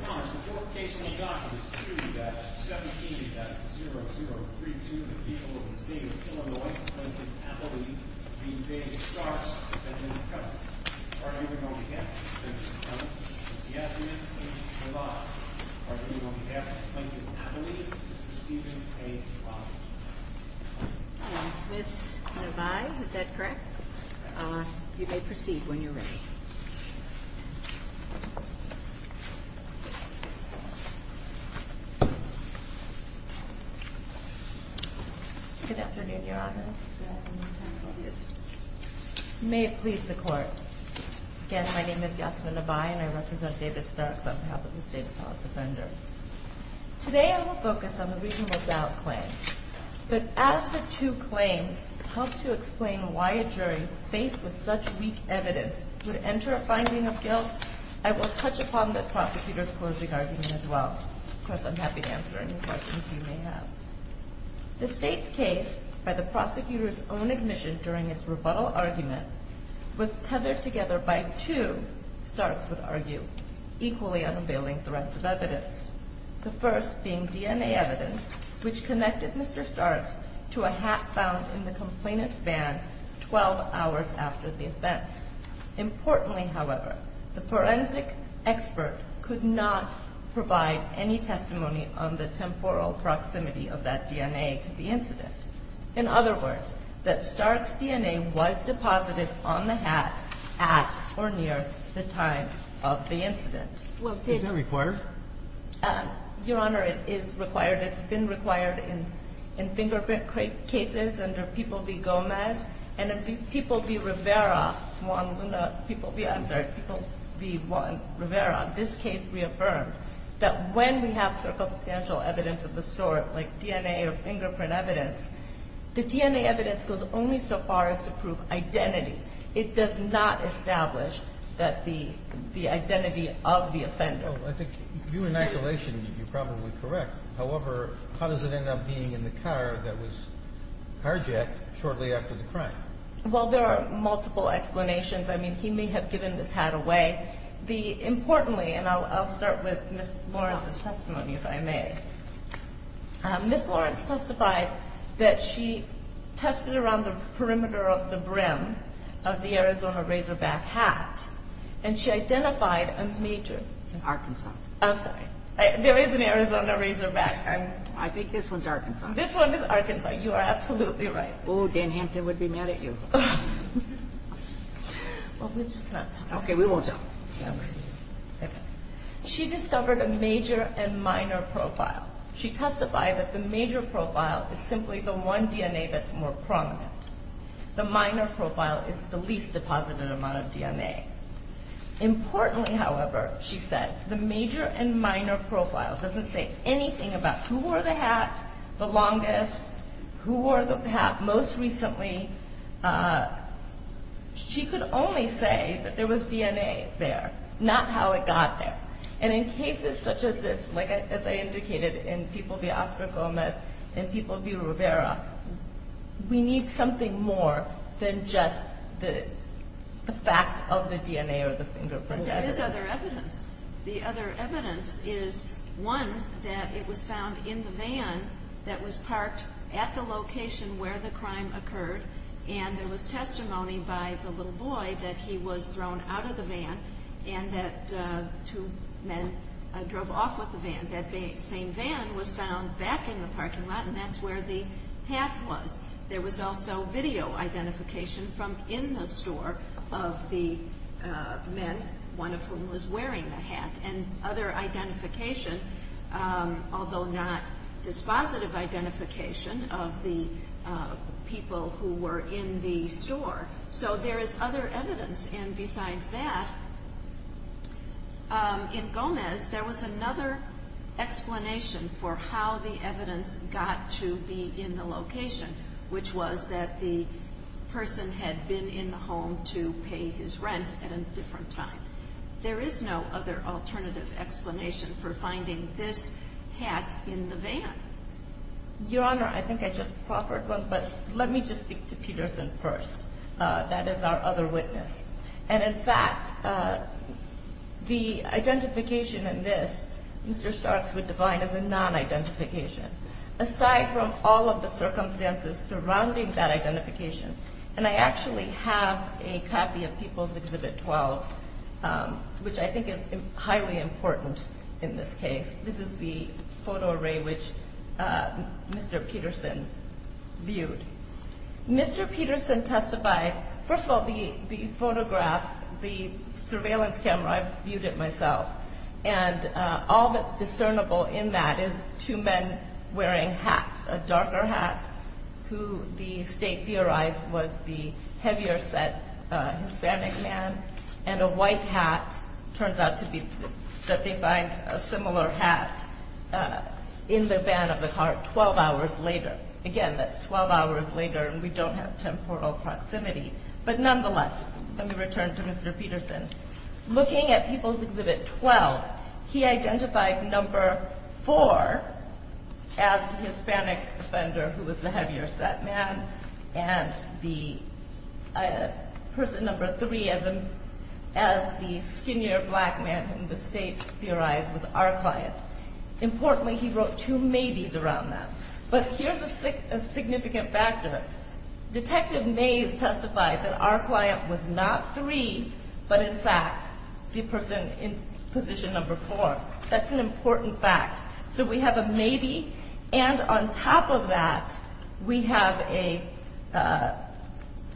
Your Honor, the court case in the Doctrine is 2-17-0032. The people of the state of Illinois, Plainton, Appalachia, the invading Starks have been discovered. Are you going to have them discovered? Yes, Ms. Nevaeh. Are you going to have Plainton, Appalachia, Stephen A. Robbins? No. Ms. Nevaeh, is that correct? You may proceed when you're ready. Good afternoon, Your Honor. May it please the court. Again, my name is Yasmin Nevaeh, and I represent David Starks on behalf of the State Appellate Defender. Today I will focus on the reasonable doubt claim. But as the two claims help to explain why a jury faced with such weak evidence would enter a finding of guilt, I will touch upon the prosecutor's closing argument as well, because I'm happy to answer any questions you may have. The state's case, by the prosecutor's own admission during its rebuttal argument, was tethered together by two, Starks would argue, equally unveiling threats of evidence. The first being DNA evidence, which connected Mr. Starks to a hat found in the complainant's van 12 hours after the events. Importantly, however, the forensic expert could not provide any testimony on the temporal proximity of that DNA to the incident. In other words, that Starks' DNA was deposited on the hat at or near the time of the incident. Is that required? Your Honor, it is required. It's been required in fingerprint cases under P. B. Gomez and P. B. Rivera, Juan Luna, I'm sorry, P. B. Rivera. This case reaffirmed that when we have circumstantial evidence of the sort, like DNA or fingerprint evidence, the DNA evidence goes only so far as to prove identity. It does not establish that the identity of the offender. I think you, in isolation, you're probably correct. However, how does it end up being in the car that was carjacked shortly after the crime? Well, there are multiple explanations. I mean, he may have given this hat away. Importantly, and I'll start with Ms. Lawrence's testimony if I may, Ms. Lawrence testified that she tested around the perimeter of the brim of the Arizona Razorback hat and she identified a major. Arkansas. I'm sorry. There is an Arizona Razorback. I think this one's Arkansas. This one is Arkansas. You are absolutely right. Oh, Dan Hampton would be mad at you. Well, we'll just not talk about it. Okay, we won't talk. She discovered a major and minor profile. She testified that the major profile is simply the one DNA that's more prominent. The minor profile is the least deposited amount of DNA. Importantly, however, she said, the major and minor profile doesn't say anything about who wore the hat the longest, who wore the hat most recently. She could only say that there was DNA there, not how it got there. And in cases such as this, as I indicated, in people v. Oscar Gomez and people v. Rivera, we need something more than just the fact of the DNA or the fingerprint. But there is other evidence. The other evidence is, one, that it was found in the van that was parked at the location where the crime occurred. And there was testimony by the little boy that he was thrown out of the van and that two men drove off with the van. That same van was found back in the parking lot, and that's where the hat was. There was also video identification from in the store of the men, one of whom was wearing the hat. And other identification, although not dispositive identification, of the people who were in the store. So there is other evidence. And besides that, in Gomez, there was another explanation for how the evidence got to be in the location, which was that the person had been in the home to pay his rent at a different time. There is no other alternative explanation for finding this hat in the van. Your Honor, I think I just proffered one, but let me just speak to Peterson first. That is our other witness. And in fact, the identification in this, Mr. Starks would define as a non-identification. Aside from all of the circumstances surrounding that identification. And I actually have a copy of People's Exhibit 12, which I think is highly important in this case. This is the photo array which Mr. Peterson viewed. Mr. Peterson testified, first of all, the photographs, the surveillance camera, I viewed it myself. And all that's discernible in that is two men wearing hats. A darker hat, who the state theorized was the heavier set Hispanic man. And a white hat, turns out to be that they find a similar hat in the van of the car 12 hours later. Again, that's 12 hours later and we don't have temporal proximity. But nonetheless, let me return to Mr. Peterson. Looking at People's Exhibit 12, he identified number 4 as the Hispanic offender who was the heavier set man. And the person number 3 as the skinnier black man whom the state theorized was our client. Importantly, he wrote two maybes around that. But here's a significant factor. Detective Mayes testified that our client was not 3, but in fact, the person in position number 4. That's an important fact. So we have a maybe, and on top of that, we have a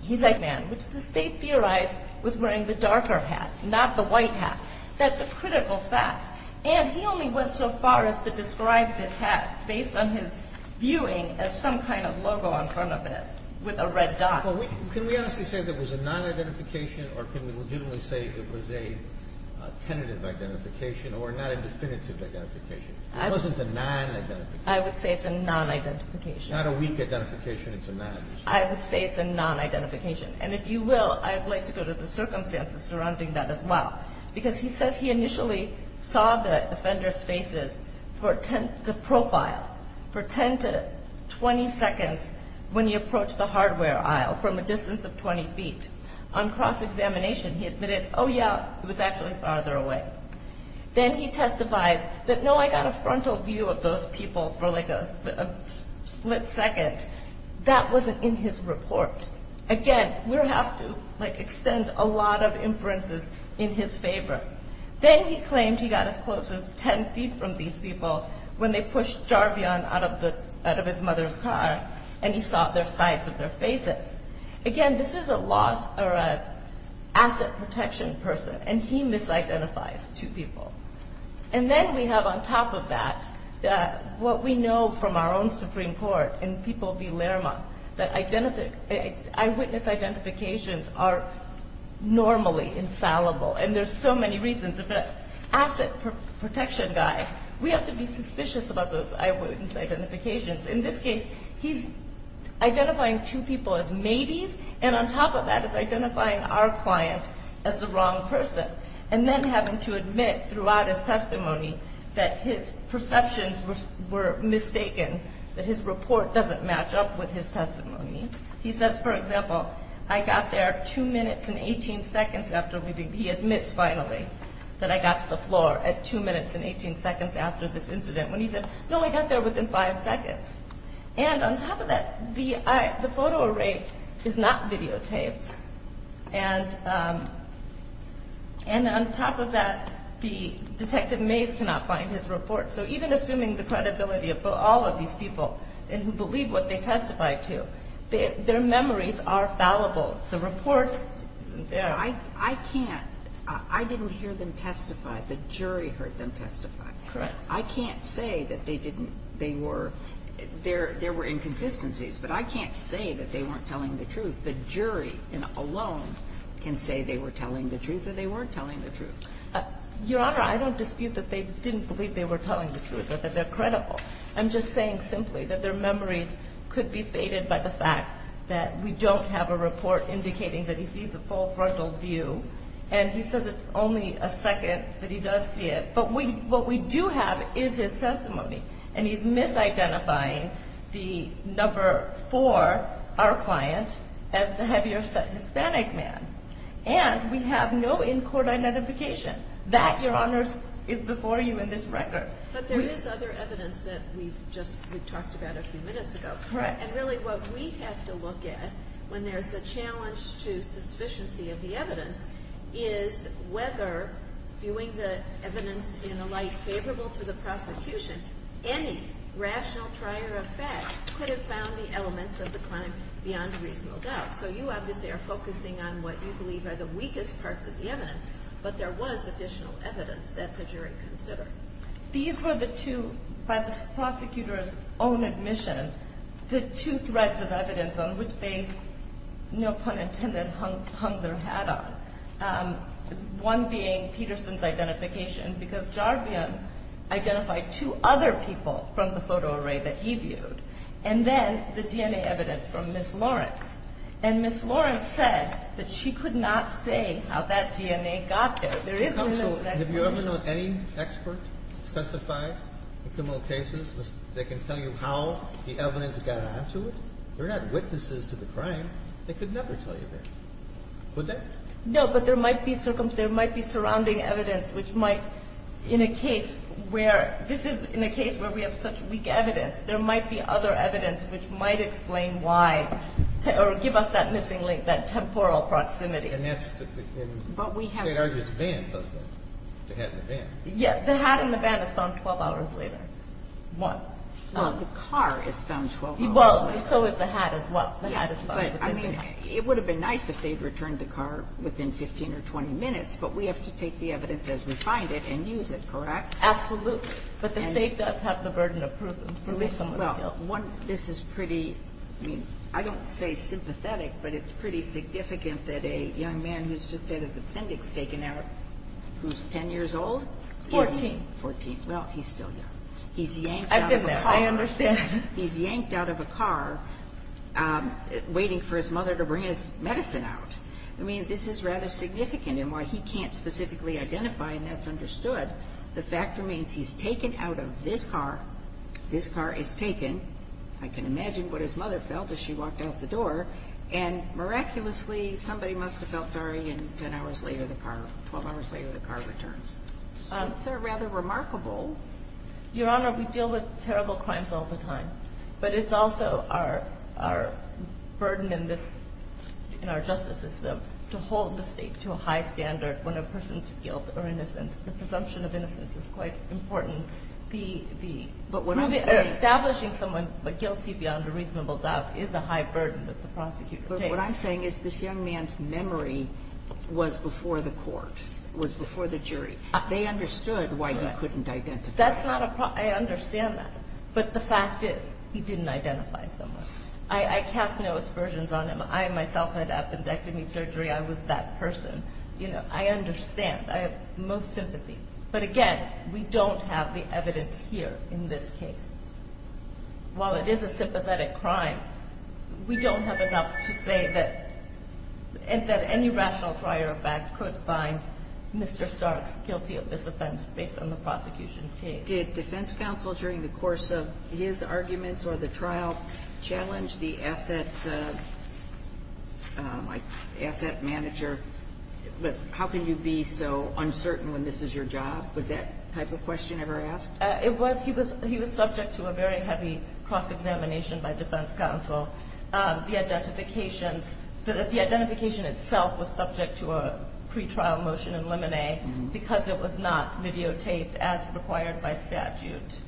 Hispanic man, which the state theorized was wearing the darker hat, not the white hat. That's a critical fact. And he only went so far as to describe this hat based on his viewing as some kind of logo on front of it with a red dot. Can we honestly say that was a non-identification or can we legitimately say it was a tentative identification or not a definitive identification? It wasn't a non-identification. I would say it's a non-identification. Not a weak identification, it's a non-identification. I would say it's a non-identification. And if you will, I'd like to go to the circumstances surrounding that as well. Because he says he initially saw the offender's faces for the profile for 10 to 20 seconds when he approached the hardware aisle from a distance of 20 feet. On cross-examination, he admitted, oh yeah, it was actually farther away. Then he testifies that, no, I got a frontal view of those people for like a split second. That wasn't in his report. Again, we have to extend a lot of inferences in his favor. Then he claimed he got as close as 10 feet from these people when they pushed Jarvion out of his mother's car and he saw their sides of their faces. Again, this is a loss or an asset protection person and he misidentifies two people. And then we have on top of that, what we know from our own Supreme Court and people of ILRMA, that eyewitness identifications are normally infallible. And there's so many reasons. If an asset protection guy, we have to be suspicious about those eyewitness identifications. In this case, he's identifying two people as maybes and on top of that is identifying our client as the wrong person. And then having to admit throughout his testimony that his perceptions were mistaken, that his report doesn't match up with his testimony. He says, for example, I got there two minutes and 18 seconds after leaving. He admits finally that I got to the floor at two minutes and 18 seconds after this incident. When he said, no, I got there within five seconds. And on top of that, the photo array is not videotaped. And on top of that, the Detective Mays cannot find his report. So even assuming the credibility of all of these people and who believe what they testify to, their memories are fallible. The report, they're not. I can't. I didn't hear them testify. The jury heard them testify. Correct. I can't say that they didn't, they were, there were inconsistencies. But I can't say that they weren't telling the truth. The jury alone can say they were telling the truth or they weren't telling the truth. Your Honor, I don't dispute that they didn't believe they were telling the truth or that they're credible. I'm just saying simply that their memories could be faded by the fact that we don't have a report indicating that he sees a full frontal view. And he says it's only a second that he does see it. But what we do have is his testimony. And he's misidentifying the number four, our client, as the heavier Hispanic man. And we have no in-court identification. That, Your Honors, is before you in this record. But there is other evidence that we've just, we've talked about a few minutes ago. Correct. And really what we have to look at when there's a challenge to sufficiency of the evidence is whether, viewing the evidence in a light favorable to the prosecution, any rational trier of fact could have found the elements of the crime beyond reasonable doubt. So you obviously are focusing on what you believe are the weakest parts of the evidence. But there was additional evidence that the jury considered. These were the two, by the prosecutor's own admission, the two threads of evidence on which they, no pun intended, hung their hat on. One being Peterson's identification. Because Jarvion identified two other people from the photo array that he viewed. And then the DNA evidence from Ms. Lawrence. And Ms. Lawrence said that she could not say how that DNA got there. There is an explanation. Have you ever known any expert who's testified in criminal cases that can tell you how the evidence got onto it? They're not witnesses to the crime. They could never tell you that. Would they? No, but there might be surrounding evidence which might, in a case where, this is in a case where we have such weak evidence, there might be other evidence which might explain why, or give us that missing link, that temporal proximity. And that's in State Argument's van, doesn't it? The hat in the van. Yeah. The hat in the van is found 12 hours later. Why? Well, the car is found 12 hours later. Well, so is the hat as well. The hat is found within the van. It would have been nice if they'd returned the car within 15 or 20 minutes, but we have to take the evidence as we find it and use it, correct? Absolutely. But the State does have the burden of proof. Well, this is pretty, I mean, I don't say sympathetic, but it's pretty significant that a young man who's just had his appendix taken out, who's 10 years old? 14. 14. Well, he's still young. I've been there. I understand. He's yanked out of a car waiting for his mother to bring his medicine out. I mean, this is rather significant. And while he can't specifically identify, and that's understood, the fact remains he's taken out of this car. This car is taken. I can imagine what his mother felt as she walked out the door. And miraculously, somebody must have felt sorry, and 10 hours later, the car, 12 hours later, the car returns. So it's rather remarkable. Your Honor, we deal with terrible crimes all the time. But it's also our burden in this, in our justice system, to hold the State to a high standard when a person's guilt or innocence, the presumption of innocence is quite important. Establishing someone guilty beyond a reasonable doubt is a high burden that the prosecutor takes. But what I'm saying is this young man's memory was before the court, was before the jury. They understood why he couldn't identify. That's not a problem. I understand that. But the fact is, he didn't identify someone. I cast no aspersions on him. I myself had appendectomy surgery. I was that person. You know, I understand. I have most sympathy. But again, we don't have the evidence here in this case. While it is a sympathetic crime, we don't have enough to say that, that any rational prior effect could find Mr. Starks guilty of this offense based on the prosecution's case. Did defense counsel, during the course of his arguments or the trial, challenge the asset manager? How can you be so uncertain when this is your job? Was that type of question ever asked? It was. He was subject to a very heavy cross-examination by defense counsel. The identification itself was subject to a pretrial motion in limine, because it was not videotaped as required by statute.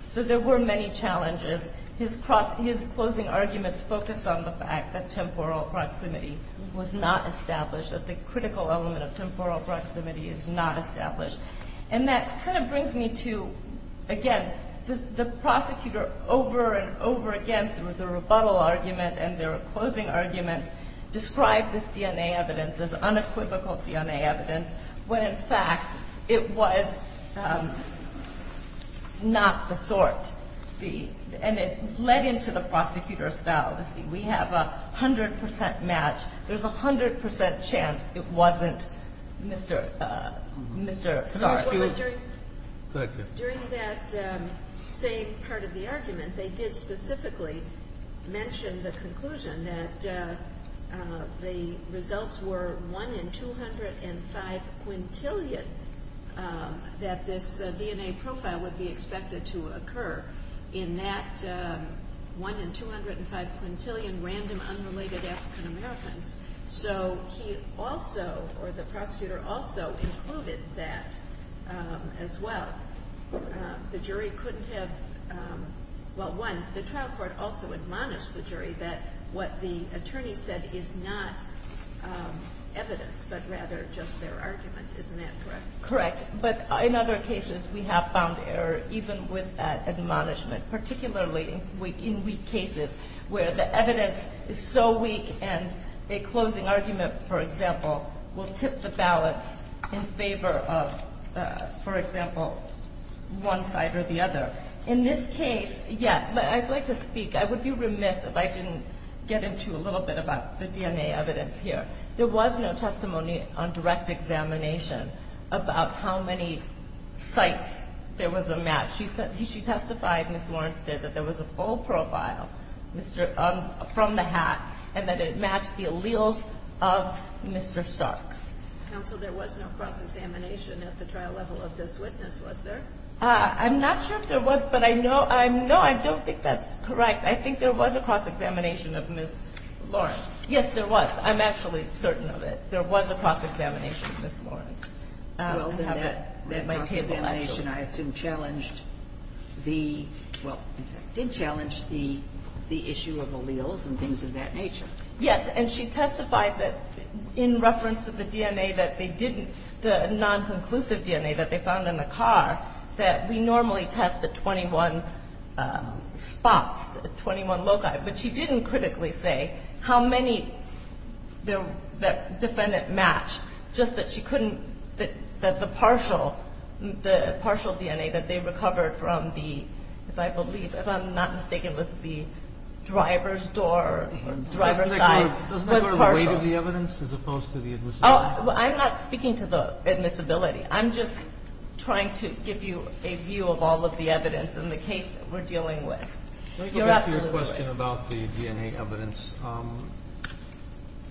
So there were many challenges. His closing arguments focused on the fact that temporal proximity was not established, that the critical element of temporal proximity is not established. And that kind of brings me to, again, the prosecutor, over and over again, through the rebuttal argument and their closing arguments, described this DNA evidence as unequivocal DNA evidence, when in fact it was not the sort. And it led into the prosecutor's foul. We have a 100% match. There's a 100% chance it wasn't Mr. Starks. During that same part of the argument, they did specifically mention the conclusion that the results were 1 in 205 quintillion that this DNA profile would be expected to occur in that 1 in 205 quintillion random, unrelated African Americans. So he also, or the prosecutor also, concluded that, as well, the jury couldn't have, well, one, the trial court also admonished the jury that what the attorney said is not evidence, but rather just their argument. Isn't that correct? Correct. But in other cases, we have found error, even with that admonishment, particularly in weak cases, where the evidence is so weak and a closing argument, for example, will tip the balance in favor of, for example, one side or the other. In this case, yeah, I'd like to speak, I would be remiss if I didn't get into a little bit about the DNA evidence here. There was no testimony on direct examination about how many sites there was a match. She testified, Ms. Lawrence did, that there was a full profile from the hat and that it matched the alleles of Mr. Starks. Counsel, there was no cross-examination at the trial level of this witness, was there? I'm not sure if there was, but I know, no, I don't think that's correct. I think there was a cross-examination of Ms. Lawrence. Yes, there was. I'm actually certain of it. There was a cross-examination of Ms. Lawrence. Well, then that cross-examination, I assume, challenged the, well, did challenge the issue of alleles and things of that nature. Yes. And she testified that, in reference to the DNA that they didn't, the non-conclusive DNA that they found in the car, that we normally test at 21 spots, at 21 loci, but she didn't critically say how many that defendant matched, just that she couldn't, that the partial, the partial DNA that they recovered from the, if I believe, if I'm not mistaken, was the driver's door, driver's side, was partial. Doesn't that go to the weight of the evidence, as opposed to the admissibility? Oh, I'm not speaking to the admissibility. I'm just trying to give you a view of all of the evidence in the case that we're dealing with. You're absolutely right. Going back to your question about the DNA evidence,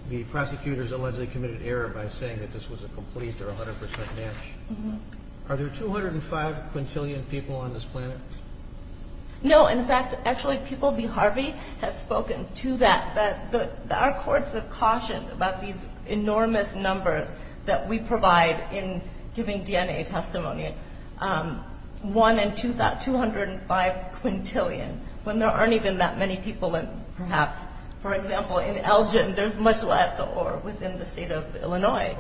the prosecutors allegedly committed error by saying that this was a complete or 100% match. Are there 205 quintillion people on this planet? No. In fact, actually, People v. Harvey has spoken to that. Our courts have cautioned about these enormous numbers that we provide in giving DNA testimony. One in 205 quintillion, when there aren't even that many people, and perhaps, for example, in Elgin, there's much less, or within the state of Illinois.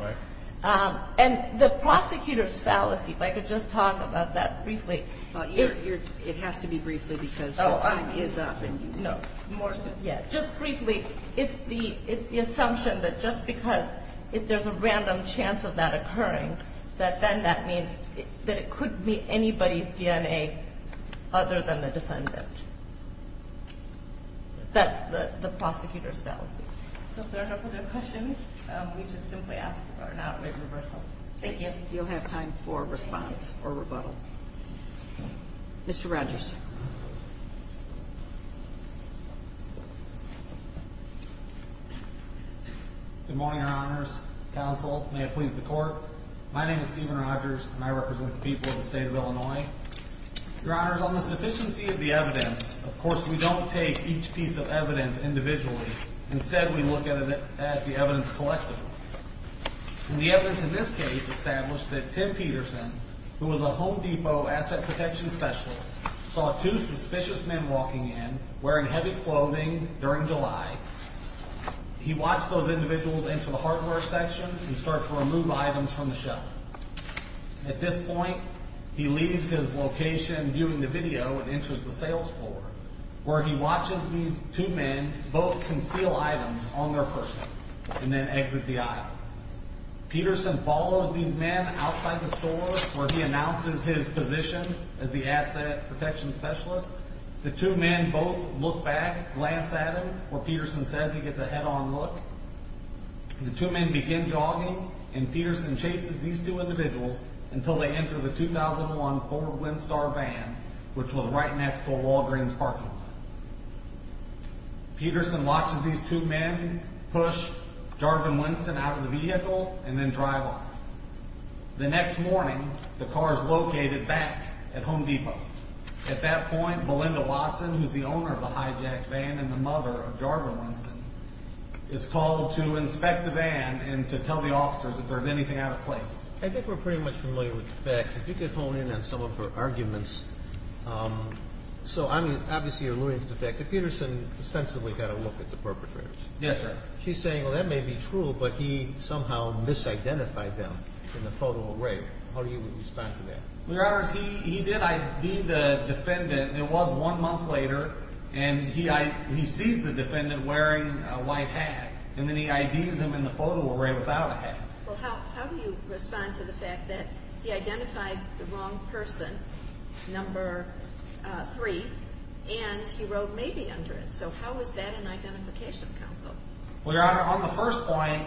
And the prosecutor's fallacy, if I could just talk about that briefly. It has to be briefly, because your time is up. No. Just briefly, it's the assumption that just because if there's a random chance of that occurring, that then that means that it could be anybody's DNA other than the defendant. That's the prosecutor's fallacy. So if there are no further questions, we just simply ask for an outright reversal. Thank you. You'll have time for response or rebuttal. Mr. Rogers. Good morning, Your Honors. Counsel, may it please the Court. My name is Steven Rogers, and I represent the people of the state of Illinois. Your Honors, on the sufficiency of the evidence, of course, we don't take each piece of evidence individually. Instead, we look at the evidence collectively. And the evidence in this case established that Tim Peterson, who was a Home Depot asset protection specialist, saw two suspicious men walking in, wearing heavy clothing, during July. He watched those individuals enter the hardware section and start to remove items from the shelf. At this point, he leaves his location, viewing the video, and enters the sales floor, where he watches these two men both conceal items on their person, and then exit the aisle. Peterson follows these men outside the store, where he announces his position as the asset protection specialist. The two men both look back, glance at him, where Peterson says he gets a head-on look. The two men begin jogging, and Peterson chases these two individuals until they enter the 2001 Ford Windstar van, which was right next to a Walgreens parking lot. Peterson watches these two men push Jarvin Winston out of the vehicle, and then drive off. The next morning, the car is located back at Home Depot. At that point, Belinda Watson, who's the owner of the hijacked van, and the mother of Jarvin Winston, is called to inspect the van, and to tell the officers if there's anything out of place. I think we're pretty much familiar with the facts. If you could hone in on some of her arguments. So, obviously, you're alluding to the fact that Peterson ostensibly got a look at the perpetrators. Yes, sir. She's saying, well, that may be true, but he somehow misidentified them in the photo array. How do you respond to that? He did ID the defendant. It was one month later, and he sees the defendant wearing a white hat, and then he IDs him in the photo array without a hat. Well, how do you respond to the fact that he identified the wrong person number three, and he wrote maybe under it? So, how is that an identification counsel? Well, Your Honor, on the first point,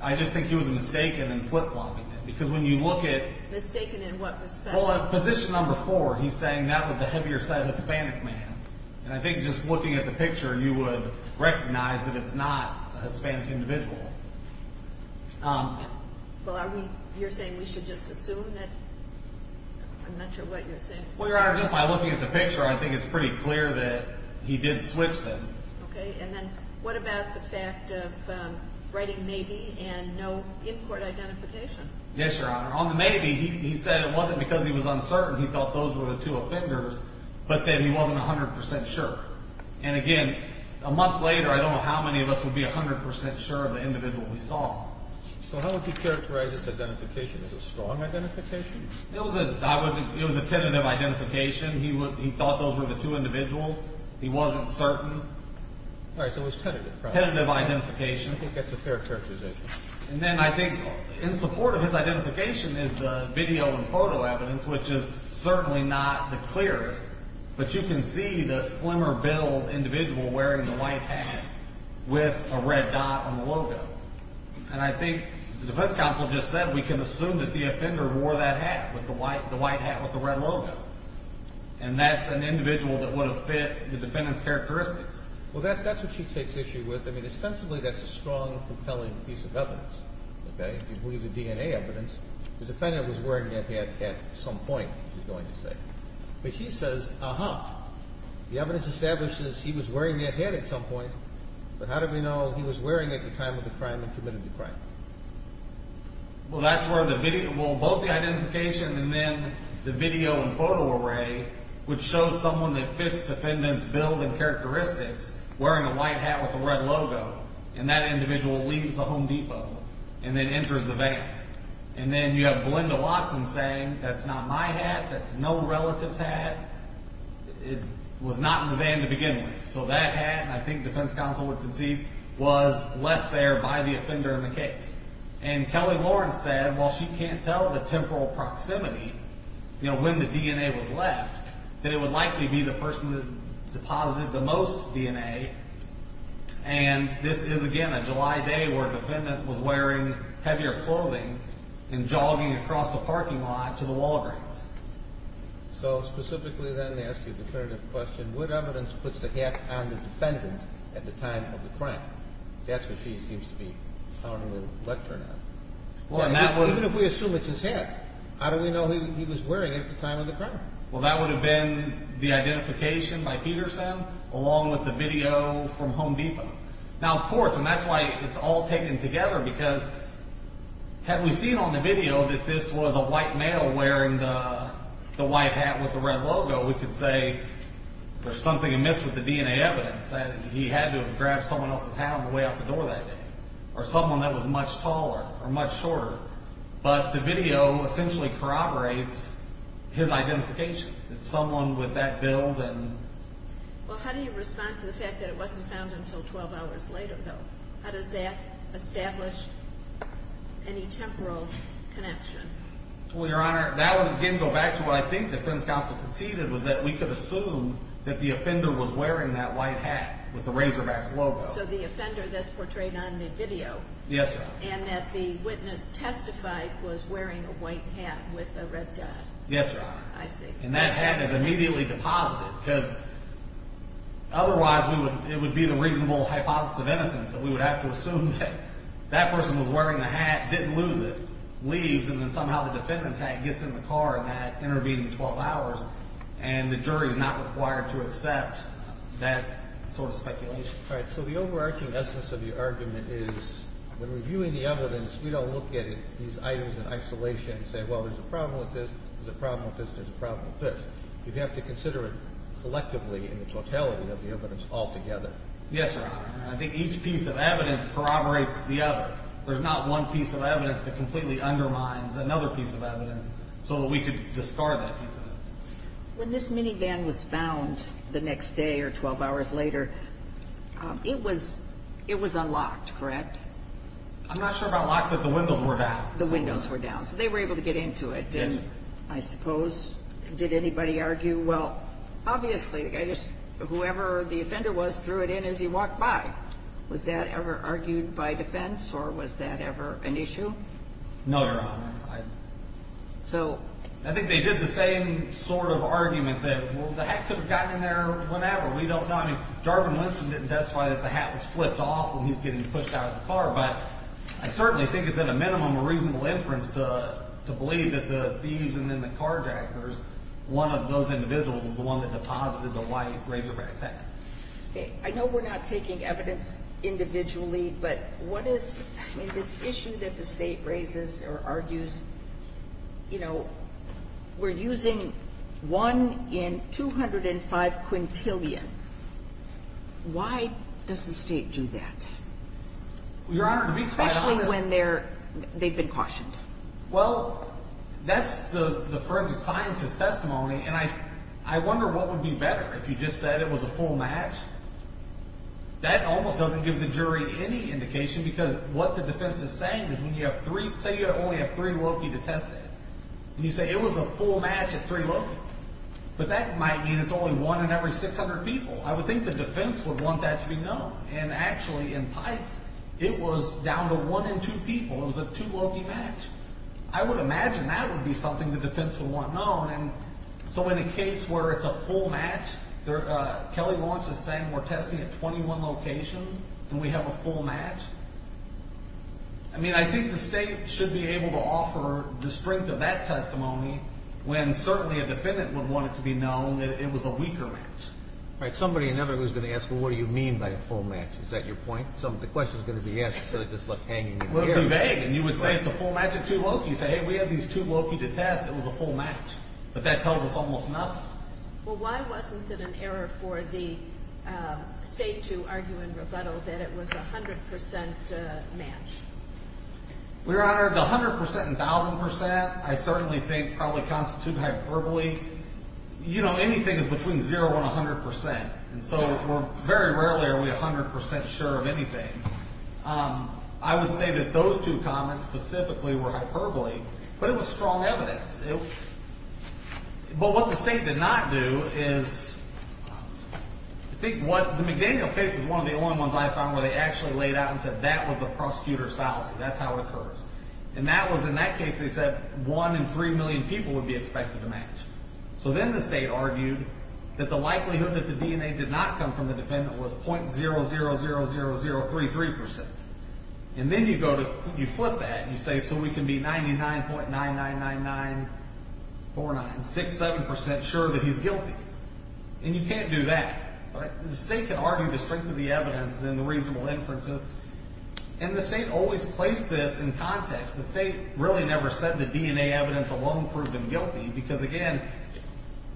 I just think he was mistaken in flip-flopping it. Because when you look at... Mistaken in what respect? Well, at position number four, he's saying that was the heavier set Hispanic man. And I think just looking at the picture, you would recognize that it's not a Hispanic individual. Well, are we... You're saying we should just assume that... I'm not sure what you're saying. Well, Your Honor, just by looking at the picture, I think it's pretty clear that he did switch them. Okay, and then what about the fact of writing maybe and no in-court identification? Yes, Your Honor. On the maybe, he said it wasn't because he was uncertain. He thought those were the two offenders, but that he wasn't 100% sure. And again, a month later, I don't know how many of us would be 100% sure of the individual we saw. So, how would you characterize this identification? Is it a strong identification? It was a tentative identification. He thought those were the two individuals. He wasn't certain. All right, so it was tentative. Tentative identification. I think that's a fair characterization. And then, I think, in support of his identification is the video and photo evidence, which is certainly not the clearest. But you can see the slimmer billed individual wearing the white hat with a red dot on the logo. And I think the defense counsel just said we can assume that the offender wore that hat, the white hat with the red logo. And that's an individual that would have fit the defendant's characteristics. Well, that's what she takes issue with. I mean, ostensibly, that's a strong, compelling piece of evidence. Okay? If we use the DNA evidence, the defendant was wearing that hat at some point, she's going to say. But she says, uh-huh. The evidence establishes he was wearing that hat at some point, but how do we know he was wearing it at the time of the crime and committed the crime? Well, that's where the video well, both the identification and then the video and photo array would show someone that fits the defendant's billed and characteristics wearing a white hat with a red logo. And that individual leaves the Home Depot and then enters the van. And then you have Belinda Watson saying, that's not my hat, that's no relative's hat. It was not in the van to begin with. So that hat, and I think defense counsel would concede, was left there by the offender in the case. And Kelly Lawrence said, well, she can't tell the temporal proximity when the DNA was left that it would likely be the person that deposited the most DNA. And this is, again, a July day where the defendant was wearing heavier clothing and jogging across the parking lot to the Walgreens. So, specifically then, I ask you the third question, what evidence puts the hat on the defendant at the time of the crime? That's what she seems to be telling the lectern on. Even if we assume it's his hat, how do we know he was wearing it at the time of the crime? Well, that would have been the identification by Peterson along with the video from Home Depot. Now, of course, and that's why it's all taken together, because had we seen on the video that this was a white male wearing the white hat with the red logo, we could say there's something amiss with the DNA evidence that he had to have grabbed someone else's hat on the way out the door that day, or someone that was much taller or much shorter. But the video essentially corroborates his identification, that someone with that build and... Well, how do you respond to the fact that it wasn't found until 12 hours later, though? How does that establish any temporal connection? Well, Your Honor, that would again go back to what I think the defense counsel conceded was that we could assume that the offender was wearing that white hat with the Razorbacks logo. So the offender that's portrayed on the video and that the witness testified was wearing a white hat with a red dot. Yes, Your Honor. And that hat is immediately deposited, because otherwise it would be the reasonable hypothesis of innocence that we would have to assume that that person was wearing the hat, didn't lose it, leaves, and then somehow the defendant's hat gets in the car in that intervening 12 hours and the jury is not required to accept that sort of speculation. All right. So the overarching essence of your argument is when reviewing the evidence, we don't look at these items in isolation and say, well, there's a problem with this, there's a problem with this, there's a problem with this. You'd have to consider it collectively in the totality of the evidence altogether. Yes, Your Honor. And I think each piece of evidence corroborates the other. There's not one piece of evidence that completely undermines another piece of evidence so that we could discard that piece of evidence. When this minivan was found the next day or 12 hours later, it was unlocked, correct? I'm not sure about locked, but the windows were down. The windows were down. So they were able to get into it, I suppose. Did anybody argue? Well, obviously, whoever the offender was threw it in as he walked by. Was that ever argued by defense or was that ever an issue? No, Your Honor. So... I think they did the same sort of argument that, well, the hat could have gotten in there whenever. We don't know. I mean, Jarvin Winston didn't testify that the hat was flipped off when he's getting pushed out of the car, but I certainly think it's at a minimum a reasonable inference to believe that the thieves and then the carjackers, one of those individuals was the one that deposited the white razorback's hat. Okay. I know we're not taking evidence individually, but what is, I mean, this issue that the state raises or argues, you know, we're using 1 in 205 quintillion. Why does the state do that? Your Honor, to be quite honest... Especially when they've been cautioned. Well, that's the forensic scientist's testimony, and I wonder what would be better if you just said it was a full match. That almost doesn't give the jury any indication because what the defense is saying is when you have three, say you only have three loki to test it, and you say it was a full match at three loki, but that might mean it's only one in every 600 people. I would think the defense would want that to be known, and actually in pipes, it was down to one in two people. It was a two loki match. I would imagine that would be something the defense would want known, and so in a case where it's a full match, Kelly Lawrence is saying we're testing at 21 locations and we have a full match. I mean, I think the state should be able to offer the strength of that testimony when certainly a defendant would want it to be known that it was a weaker match. Right. Somebody, inevitably, is going to ask, well, what do you mean by a full match? Is that your point? The question is going to be asked instead of just, like, hanging in the air. It would be vague, and you would say it's a full match at two loki. You'd say, hey, we have these two loki to test. It was a full match, but that tells us almost nothing. Well, why wasn't it an error for the federal that it was a 100% match? Your Honor, the 100% and 1,000%, I certainly think, probably constitute hyperbole. You know, anything is between 0 and 100%, and so very rarely are we 100% sure of anything. I would say that those two comments specifically were hyperbole, but it was strong evidence. But what the state did not do is I think what the McDaniel case is one of the only ones I found where they actually laid out and said that was the prosecutor's fallacy. That's how it occurs. And that was, in that case, they said 1 in 3 million people would be expected to match. So then the state argued that the likelihood that the DNA did not come from the defendant was .000033%. And then you go to, you flip that, and you say, so we can be 99.9999 4967% sure that he's guilty. And you can't do that. The state can argue the strength of the evidence than the reasonable inferences. And the state always placed this in context. The state really never said the DNA evidence alone proved him guilty, because again...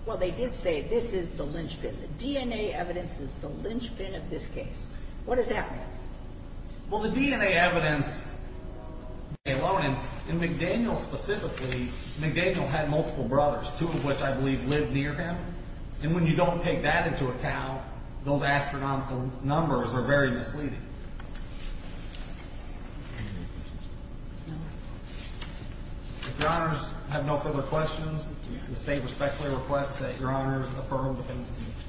Well, they did say this is the linchpin. The DNA evidence is the linchpin of this case. What does that mean? Well, the DNA evidence alone, and McDaniel specifically, McDaniel had multiple brothers, two of which I believe lived near him. And when you don't take that into account, those astronomical numbers are very misleading. If your honors have no further questions, the state respectfully requests that your honors affirm the defendant's conviction.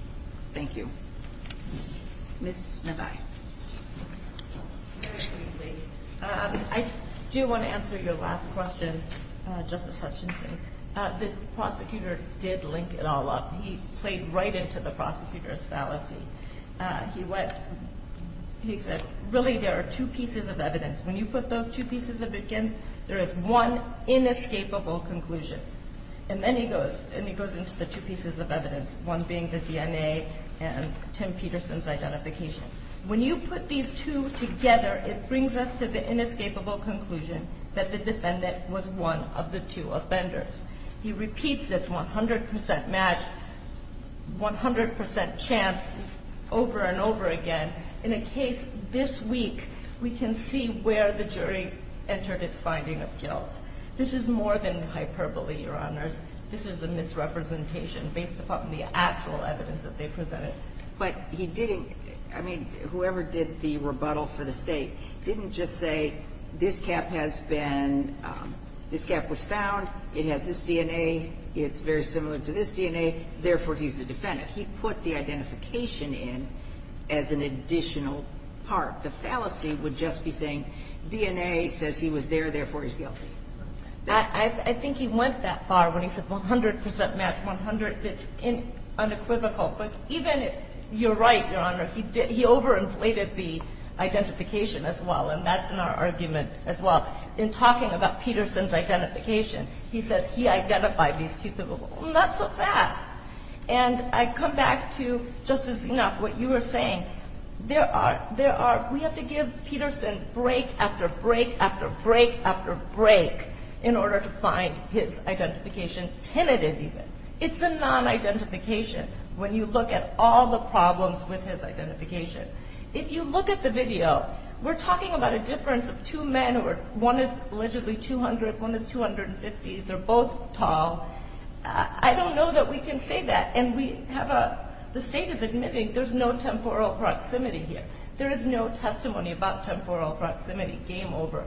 Thank you. Ms. Snibai. I do want to answer your last question, Justice Hutchinson. The prosecutor did link it all up. He played right into the prosecutor's fallacy. He said, really there are two pieces of evidence. When you put those two pieces of evidence in, there is one inescapable conclusion. And then he goes into the two pieces of evidence, one being the DNA and Tim Peterson's identification. When you put these two together, it brings us to the inescapable conclusion that the defendant was one of the two offenders. He repeats this 100% match, 100% chance over and over again. In a case this week, we can see where the jury entered its finding of guilt. This is more than hyperbole, your honors. This is a misrepresentation based upon the actual evidence that they presented. Whoever did the rebuttal for the state didn't just say this cap has been this cap was found, it has this DNA, it's very similar to this DNA, therefore he's the defendant. He put the identification in as an additional part. The fallacy would just be saying DNA says he was there, therefore he's guilty. I think he went that far when he said 100% match, 100% it's unequivocal. But even if you're right, your honors, he overinflated the argument as well. In talking about Peterson's identification, he says he identified these two people not so fast. I come back to, just as enough, what you were saying. We have to give Peterson break after break after break after break in order to find his identification tentative even. It's a non-identification when you look at all the problems with his identification. If you look at the difference of two men, one is allegedly 200, one is 250, they're both tall. I don't know that we can say that and we have a, the state is admitting there's no temporal proximity here. There is no testimony about temporal proximity, game over.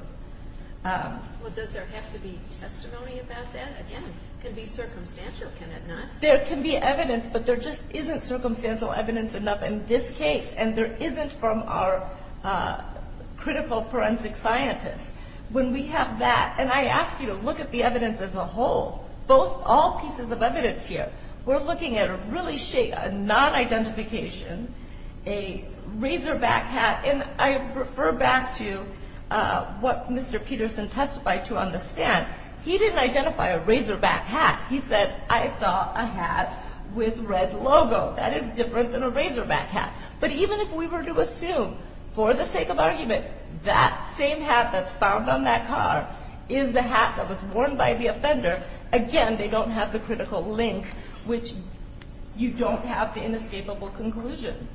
Does there have to be testimony about that? It can be circumstantial, can it not? There can be evidence, but there just isn't circumstantial evidence enough in this case and there isn't from our critical forensic scientists. When we have that, and I ask you to look at the evidence as a whole. Both, all pieces of evidence here. We're looking at a really non-identification, a razorback hat and I refer back to what Mr. Peterson testified to on the stand. He didn't identify a razorback hat. He said I saw a hat with red logo. That is different than a razorback hat. But even if we were to assume for the sake of argument that same hat that's found on that car is the hat that was worn by the offender, again, they don't have the critical link which you don't have the inescapable conclusion.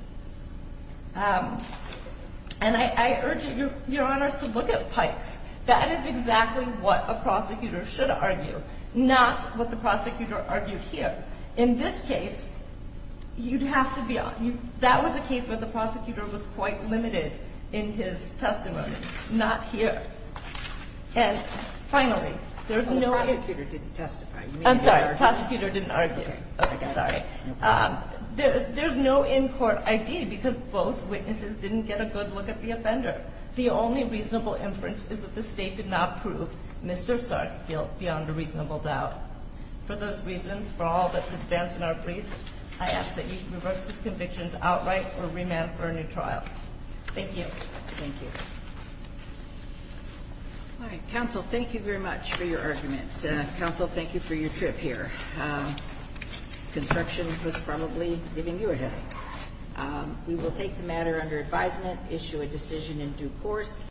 And I urge your honors to look at Pike's. That is exactly what a prosecutor should argue. Not what the prosecutor argued here. In this case you'd have to be that was a case where the prosecutor was quite limited in his testimony. Not here. And finally there's no... The prosecutor didn't testify. I'm sorry. The prosecutor didn't argue. Okay. Sorry. There's no in-court ID because both witnesses didn't get a good look at the offender. The only reasonable inference is that the State did not prove Mr. Sars guilt beyond a reasonable doubt. For those reasons, for all that's advanced in our briefs, I ask that you reverse these convictions outright or remand for a new trial. Thank you. Thank you. All right. Counsel, thank you very much for your arguments. Counsel, thank you for your trip here. Construction was probably leaving you ahead. We will take the matter under advisement, issue a decision in due course.